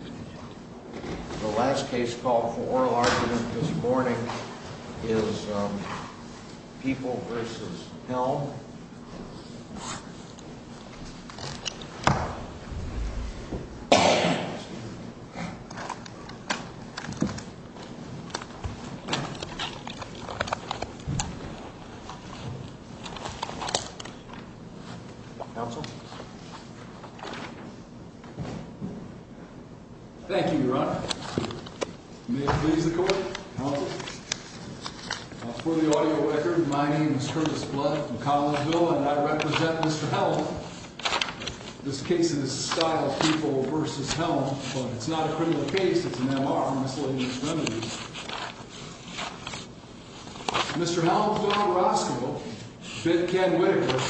The last case called for oral argument this morning is People v. Helm. Counsel? Thank you, your honor. May it please the court. For the audio record, my name is Curtis Blood from Collinsville, and I represent Mr. Helm. This case is Style People v. Helm, but it's not a criminal case, it's an M.R., Miscellaneous Remedies. Mr. Helm found Roscoe, bit Ken Whitaker,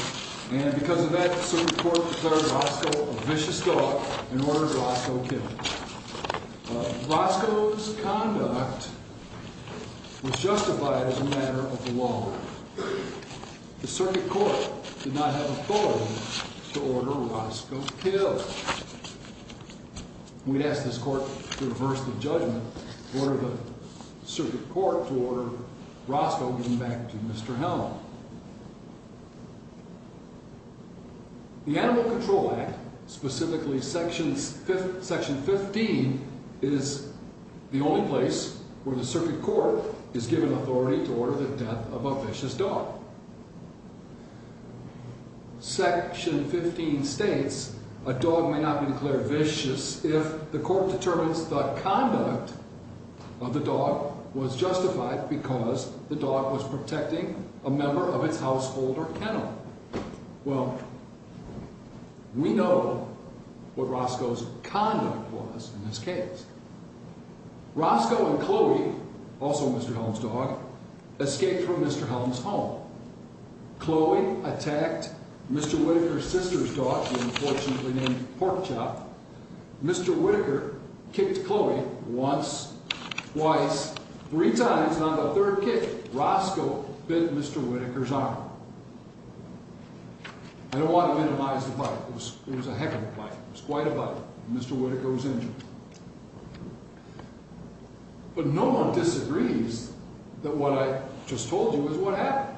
and because of that, the circuit court declared Roscoe a vicious thug and ordered Roscoe killed. Roscoe's conduct was justified as a matter of the law. The circuit court did not have authority to order Roscoe killed. We'd ask this court to reverse the judgment and order the circuit court to order Roscoe given back to Mr. Helm. The Animal Control Act, specifically Section 15, is the only place where the circuit court is given authority to order the death of a vicious dog. Section 15 states a dog may not be declared vicious if the court determines the conduct of the dog was justified because the dog was protecting a member of its household or kennel. Well, we know what Roscoe's conduct was in this case. Roscoe and Chloe, also Mr. Helm's dog, escaped from Mr. Helm's home. Chloe attacked Mr. Whitaker's sister's dog, the unfortunately named Porkchop. Mr. Whitaker kicked Chloe once, twice, three times, and on the third kick, Roscoe bit Mr. Whitaker's arm. I don't want to minimize the bite. It was a heck of a bite. It was quite a bite. Mr. Whitaker was injured. But no one disagrees that what I just told you is what happened.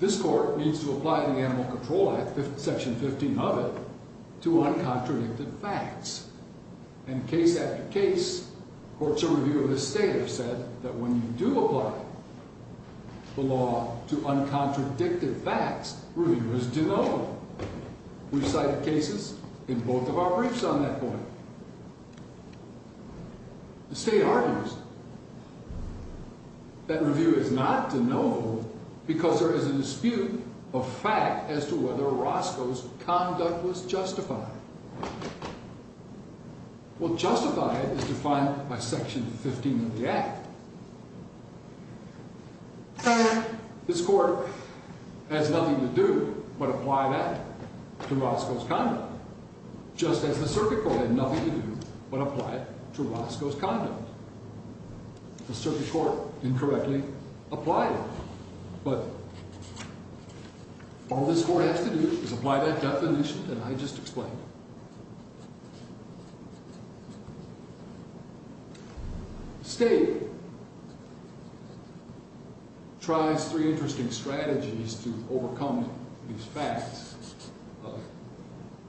This court needs to apply the Animal Control Act, Section 15 of it, to uncontradicted facts. And case after case, courts of review of the state have said that when you do apply the law to uncontradicted facts, review is denoted. We've cited cases in both of our briefs on that point. The state argues that review is not denotable because there is a dispute of fact as to whether Roscoe's conduct was justified. Well, justified is defined by Section 15 of the Act. This court has nothing to do but apply that to Roscoe's conduct, just as the circuit court had nothing to do but apply it to Roscoe's conduct. The circuit court incorrectly applied it. But all this court has to do is apply that definition that I just explained. The state tries three interesting strategies to overcome these facts.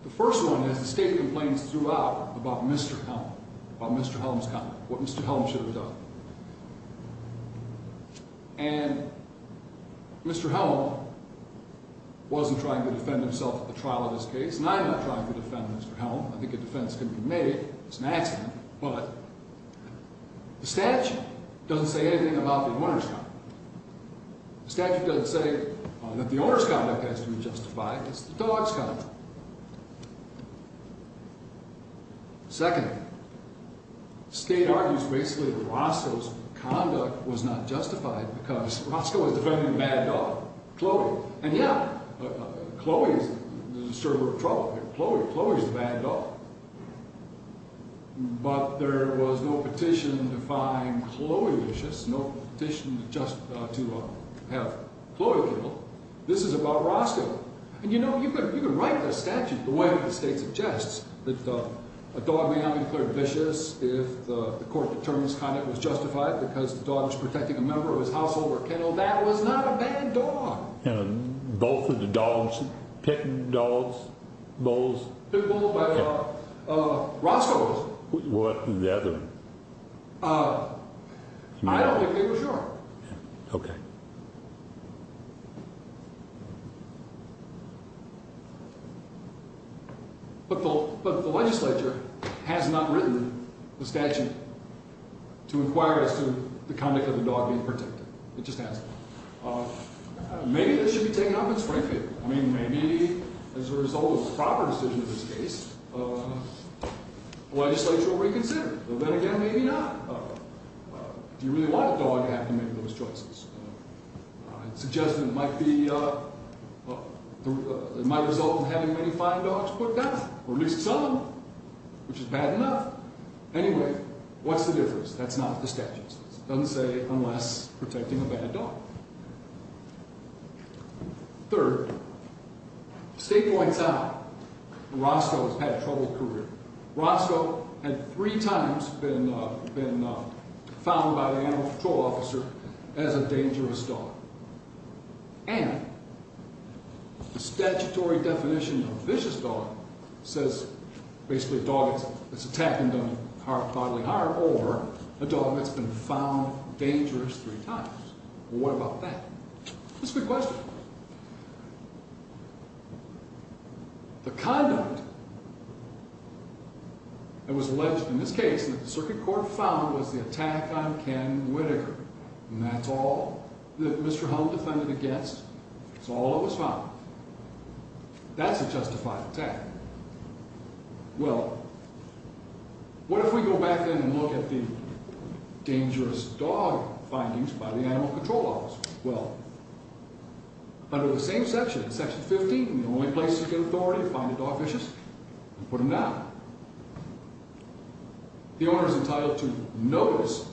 The first one is the state complains throughout about Mr. Helm, about Mr. Helm's conduct, what Mr. Helm should have done. And Mr. Helm wasn't trying to defend himself at the trial of this case, and I'm not trying to defend Mr. Helm. I think a defense can be made. It's an accident. But the statute doesn't say anything about the winner's conduct. The statute doesn't say that the owner's conduct has to be justified. It's the dog's conduct. Second, the state argues basically that Roscoe's conduct was not justified because Roscoe was defending the bad dog, Chloe. And yeah, Chloe is the disturber of trouble. Chloe is the bad dog. But there was no petition to find Chloe vicious, no petition just to have Chloe killed. This is about Roscoe. And you know, you could write the statute the way that the state suggests, that a dog may not be declared vicious if the court determines conduct was justified because the dog was protecting a member of his household or kennel. That was not a bad dog. And both of the dogs, pit bulls? Pit bulls, but Roscoe's. What of the other? I don't think they were sure. Okay. But the legislature has not written the statute to inquire as to the conduct of the dog being protected. It just hasn't. Maybe this should be taken up. It's my fault. I mean, maybe as a result of a proper decision in this case, the legislature will reconsider. But then again, maybe not. If you really want a dog, you have to make those choices. It's a judgment that might result in having many fine dogs put down or at least some of them, which is bad enough. Anyway, what's the difference? That's not the statute. It doesn't say unless protecting a bad dog. Third, the state points out that Roscoe has had a troubled career. Roscoe had three times been found by the animal control officer as a dangerous dog. And the statutory definition of a vicious dog says basically a dog that's attacked and done bodily harm or a dog that's been found dangerous three times. Well, what about that? That's a good question. Well, the conduct that was alleged in this case that the circuit court found was the attack on Ken Whittaker. And that's all that Mr. Hull defended against. That's all that was found. That's a justified attack. Well, what if we go back in and look at the dangerous dog findings by the animal control officer? Well, under the same section, section 15, the only place to get authority to find a dog vicious is to put him down. The owner is entitled to notice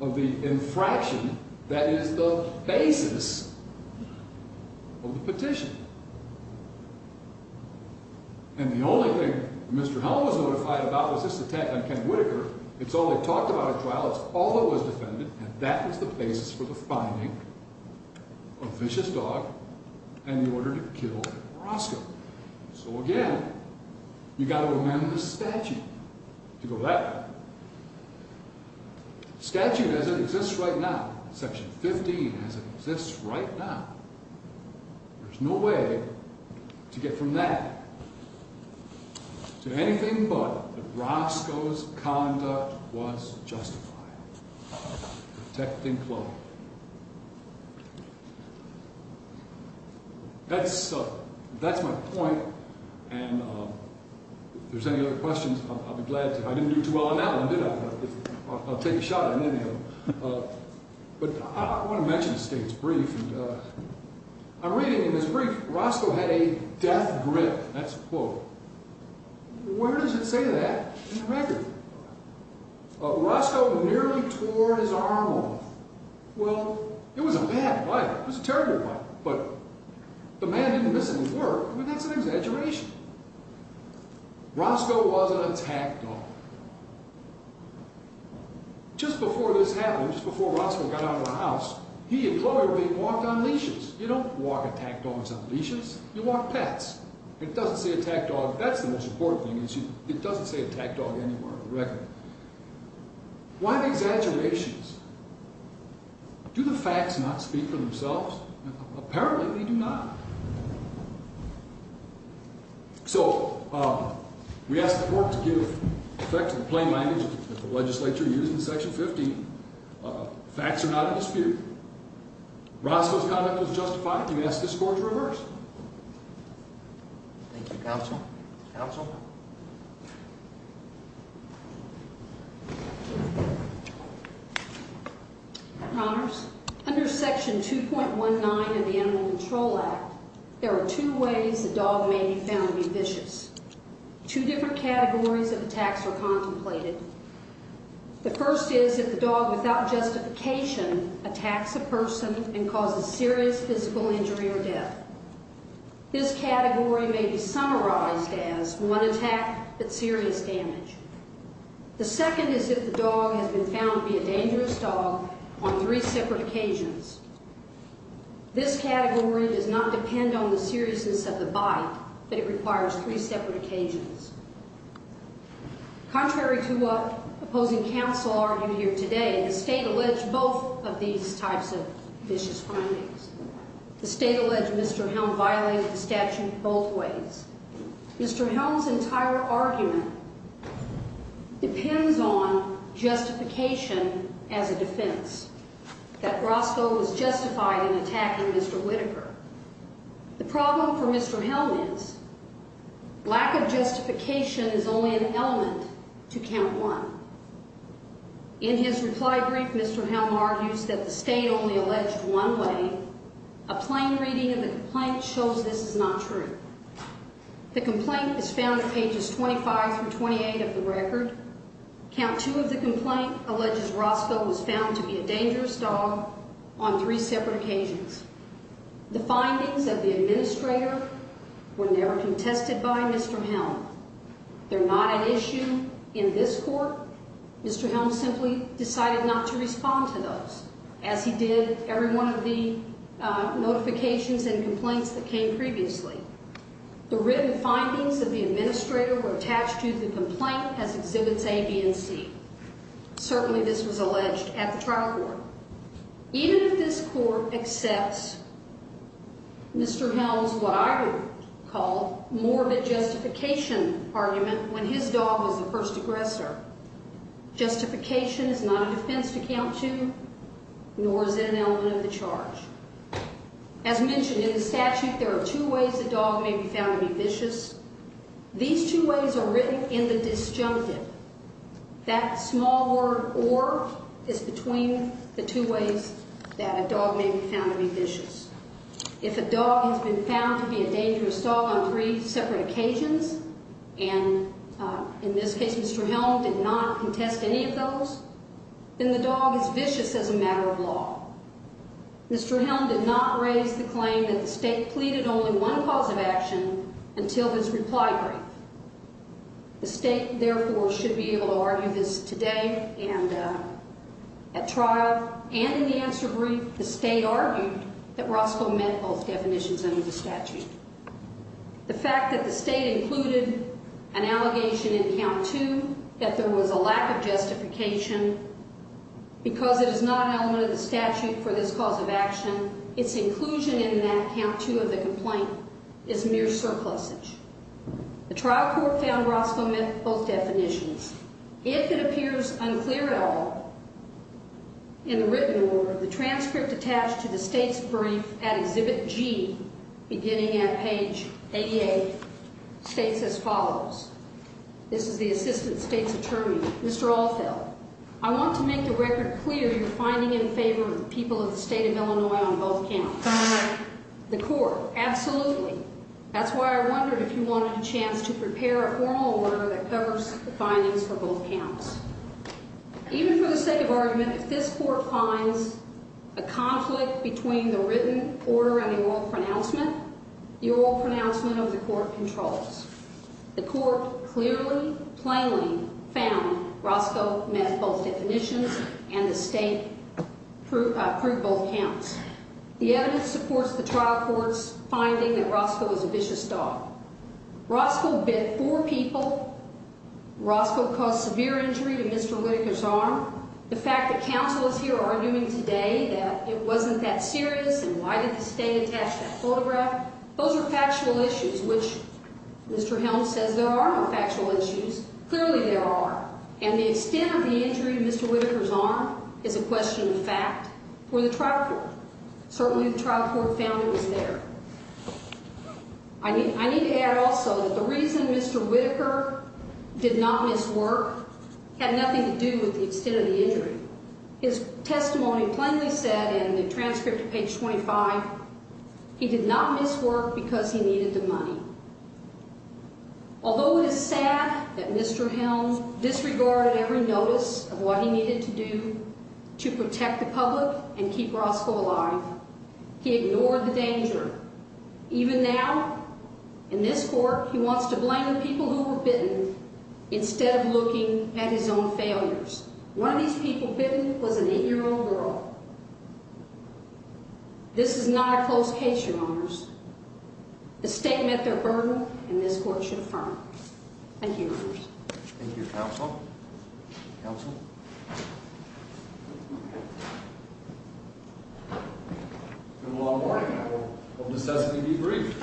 of the infraction that is the basis of the petition. And the only thing Mr. Hull was notified about was this attack on Ken Whittaker. It's all they talked about at trial. It's all that was defended. And that was the basis for the finding of a vicious dog and the order to kill Roscoe. So again, you've got to remember the statute. If you go back, the statute as it exists right now, section 15 as it exists right now, there's no way to get from that to anything but Roscoe's conduct. His conduct was justified. Protecting club. That's my point. And if there's any other questions, I'll be glad to. I didn't do too well on that one, did I? I'll take a shot at any of them. But I want to mention a state's brief. I'm reading in this brief, Roscoe had a death grip. That's a quote. Where does it say that? Roscoe nearly tore his arm off. Well, it was a bad bite. It was a terrible bite. But the man didn't miss it at work. I mean, that's an exaggeration. Roscoe was an attack dog. Just before this happened, just before Roscoe got out of the house, he and Chloe were being walked on leashes. You don't walk attack dogs on leashes. You walk pets. It doesn't say attack dog. That's the most important thing. It doesn't say attack dog anywhere on the record. Why the exaggerations? Do the facts not speak for themselves? Apparently, they do not. So, we asked the court to give effect to the plain language that the legislature used in Section 15. Facts are not a dispute. Roscoe's conduct was justified. The U.S. discourse reversed. Thank you, counsel. Counsel? Your Honors, under Section 2.19 of the Animal Control Act, there are two ways a dog may be found to be vicious. Two different categories of attacks are contemplated. The first is if the dog, without justification, attacks a person and causes serious physical injury or death. This category may be summarized as one attack, but serious damage. The second is if the dog has been found to be a dangerous dog on three separate occasions. This category does not depend on the seriousness of the bite, but it requires three separate occasions. Contrary to what opposing counsel argued here today, the state alleged both of these types of vicious findings. The state alleged Mr. Helm violated the statute both ways. Mr. Helm's entire argument depends on justification as a defense, that Roscoe was justified in attacking Mr. Whitaker. The problem for Mr. Helm is lack of justification is only an element to count one. In his reply brief, Mr. Helm argues that the state only alleged one way. A plain reading of the complaint shows this is not true. The complaint is found at pages 25 through 28 of the record. Count two of the complaint alleges Roscoe was found to be a dangerous dog on three separate occasions. The findings of the administrator were never contested by Mr. Helm. They're not an issue in this court. Mr. Helm simply decided not to respond to those, as he did every one of the notifications and complaints that came previously. The written findings of the administrator were attached to the complaint as Exhibits A, B, and C. Certainly this was alleged at the trial court. Even if this court accepts Mr. Helm's, what I would call, morbid justification argument when his dog was the first aggressor, justification is not a defense to count to, nor is it an element of the charge. As mentioned in the statute, there are two ways a dog may be found to be vicious. These two ways are written in the disjunctive. That small word, or, is between the two ways that a dog may be found to be vicious. If a dog has been found to be a dangerous dog on three separate occasions, and in this case Mr. Helm did not contest any of those, then the dog is vicious as a matter of law. Mr. Helm did not raise the claim that the state pleaded only one cause of action until his reply brief. The state, therefore, should be able to argue this today, and at trial, and in the answer brief, the state argued that Roscoe met both definitions under the statute. The fact that the state included an allegation in count two, that there was a lack of justification, because it is not an element of the statute for this cause of action, its inclusion in that count two of the complaint is mere surplusage. The trial court found Roscoe met both definitions. If it appears unclear at all in the written order, the transcript attached to the state's brief at Exhibit G, beginning at page 88, states as follows. This is the assistant state's attorney, Mr. Allfeld. I want to make the record clear you're finding in favor of the people of the state of Illinois on both counts. The court, absolutely. That's why I wondered if you wanted a chance to prepare a formal order that covers the findings for both counts. Even for the sake of argument, if this court finds a conflict between the written order and the oral pronouncement, the oral pronouncement of the court controls. The court clearly, plainly found Roscoe met both definitions, and the state proved both counts. The evidence supports the trial court's finding that Roscoe was a vicious dog. Roscoe bit four people. Roscoe caused severe injury to Mr. Whitaker's arm. The fact that counsel is here arguing today that it wasn't that serious and why did the state attach that photograph, those are factual issues, which Mr. Helms says there are no factual issues. Clearly there are, and the extent of the injury to Mr. Whitaker's arm is a question of fact for the trial court. Certainly the trial court found it was there. I need to add also that the reason Mr. Whitaker did not miss work had nothing to do with the extent of the injury. His testimony plainly said in the transcript of page 25 he did not miss work because he needed the money. Although it is sad that Mr. Helms disregarded every notice of what he needed to do to protect the public and keep Roscoe alive, he ignored the danger. Even now, in this court, he wants to blame the people who were bitten instead of looking at his own failures. One of these people bitten was an eight-year-old girl. This is not a close case, Your Honors. The state met their burden, and this court should affirm it. Thank you, Your Honors. Thank you, counsel. It's been a long morning. I hope necessity be brief.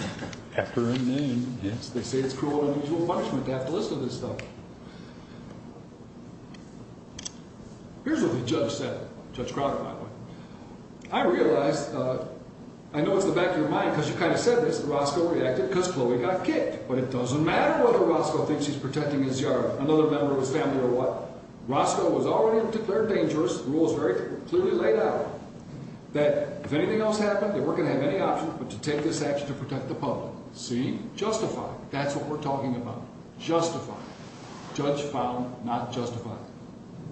After a noon, yes. They say it's cruel and unusual punishment to have to listen to this stuff. Here's what the judge said, Judge Crowder, by the way. I realize, I know it's the back of your mind because you kind of said this, that Roscoe reacted because Chloe got kicked. But it doesn't matter whether Roscoe thinks he's protecting his yard, another member of his family, or what. Roscoe was already declared dangerous. The rule is very clearly laid out. That if anything else happened, they weren't going to have any option but to take this action to protect the public. See? Justified. That's what we're talking about. Justified. Judge found not justified.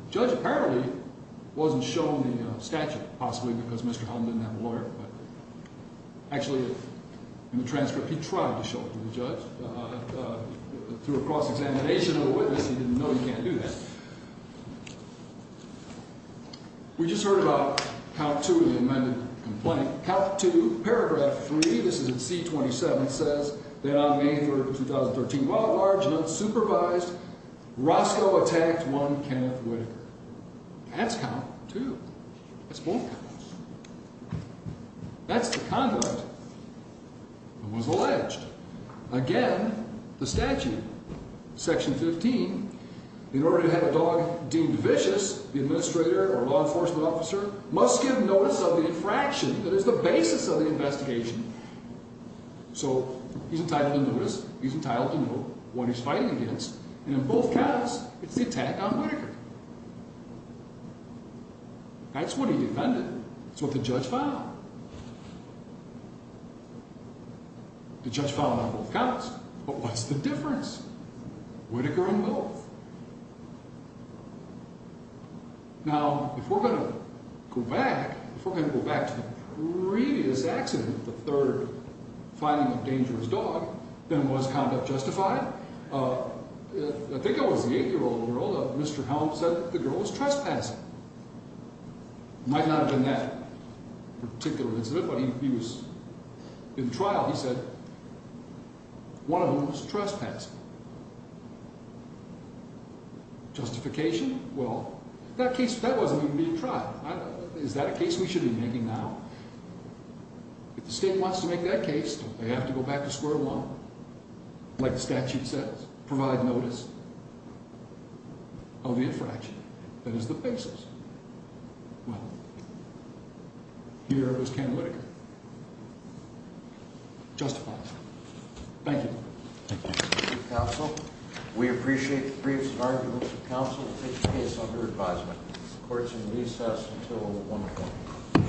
The judge apparently wasn't shown the statute, possibly because Mr. Helden didn't have a lawyer. Actually, in the transcript, he tried to show it to the judge. Through a cross-examination of the witness, he didn't know he can't do that. We just heard about count 2 of the amended complaint. Count 2, paragraph 3, this is in C-27, says that on May 3, 2013, while at large and unsupervised, Roscoe attacked one Kenneth Whitaker. That's count 2. That's both counts. That's the conduct that was alleged. Again, the statute. Section 15, in order to have a dog deemed vicious, the administrator or law enforcement officer must give notice of the infraction. That is the basis of the investigation. So, he's entitled to notice. He's entitled to know what he's fighting against. And in both counts, it's the attack on Whitaker. That's what he defended. That's what the judge found. The judge found on both counts. But what's the difference? Whitaker and both. Now, if we're going to go back, if we're going to go back to the previous accident, the third finding of dangerous dog, then was conduct justified? I think it was the 8-year-old girl, Mr. Helms, said the girl was trespassing. Might not have been that particular incident, but he was in trial. He said, one of them was trespassing. Justification? Well, that case, that wasn't even being tried. Is that a case we should be making now? If the state wants to make that case, they have to go back to square one. Like the statute says, provide notice of the infraction. That is the basis. Well, here was Ken Whitaker. Justified. Thank you. Thank you, counsel. We appreciate the briefs and arguments of counsel to take the case under advisement. Court is in recess until 1 o'clock.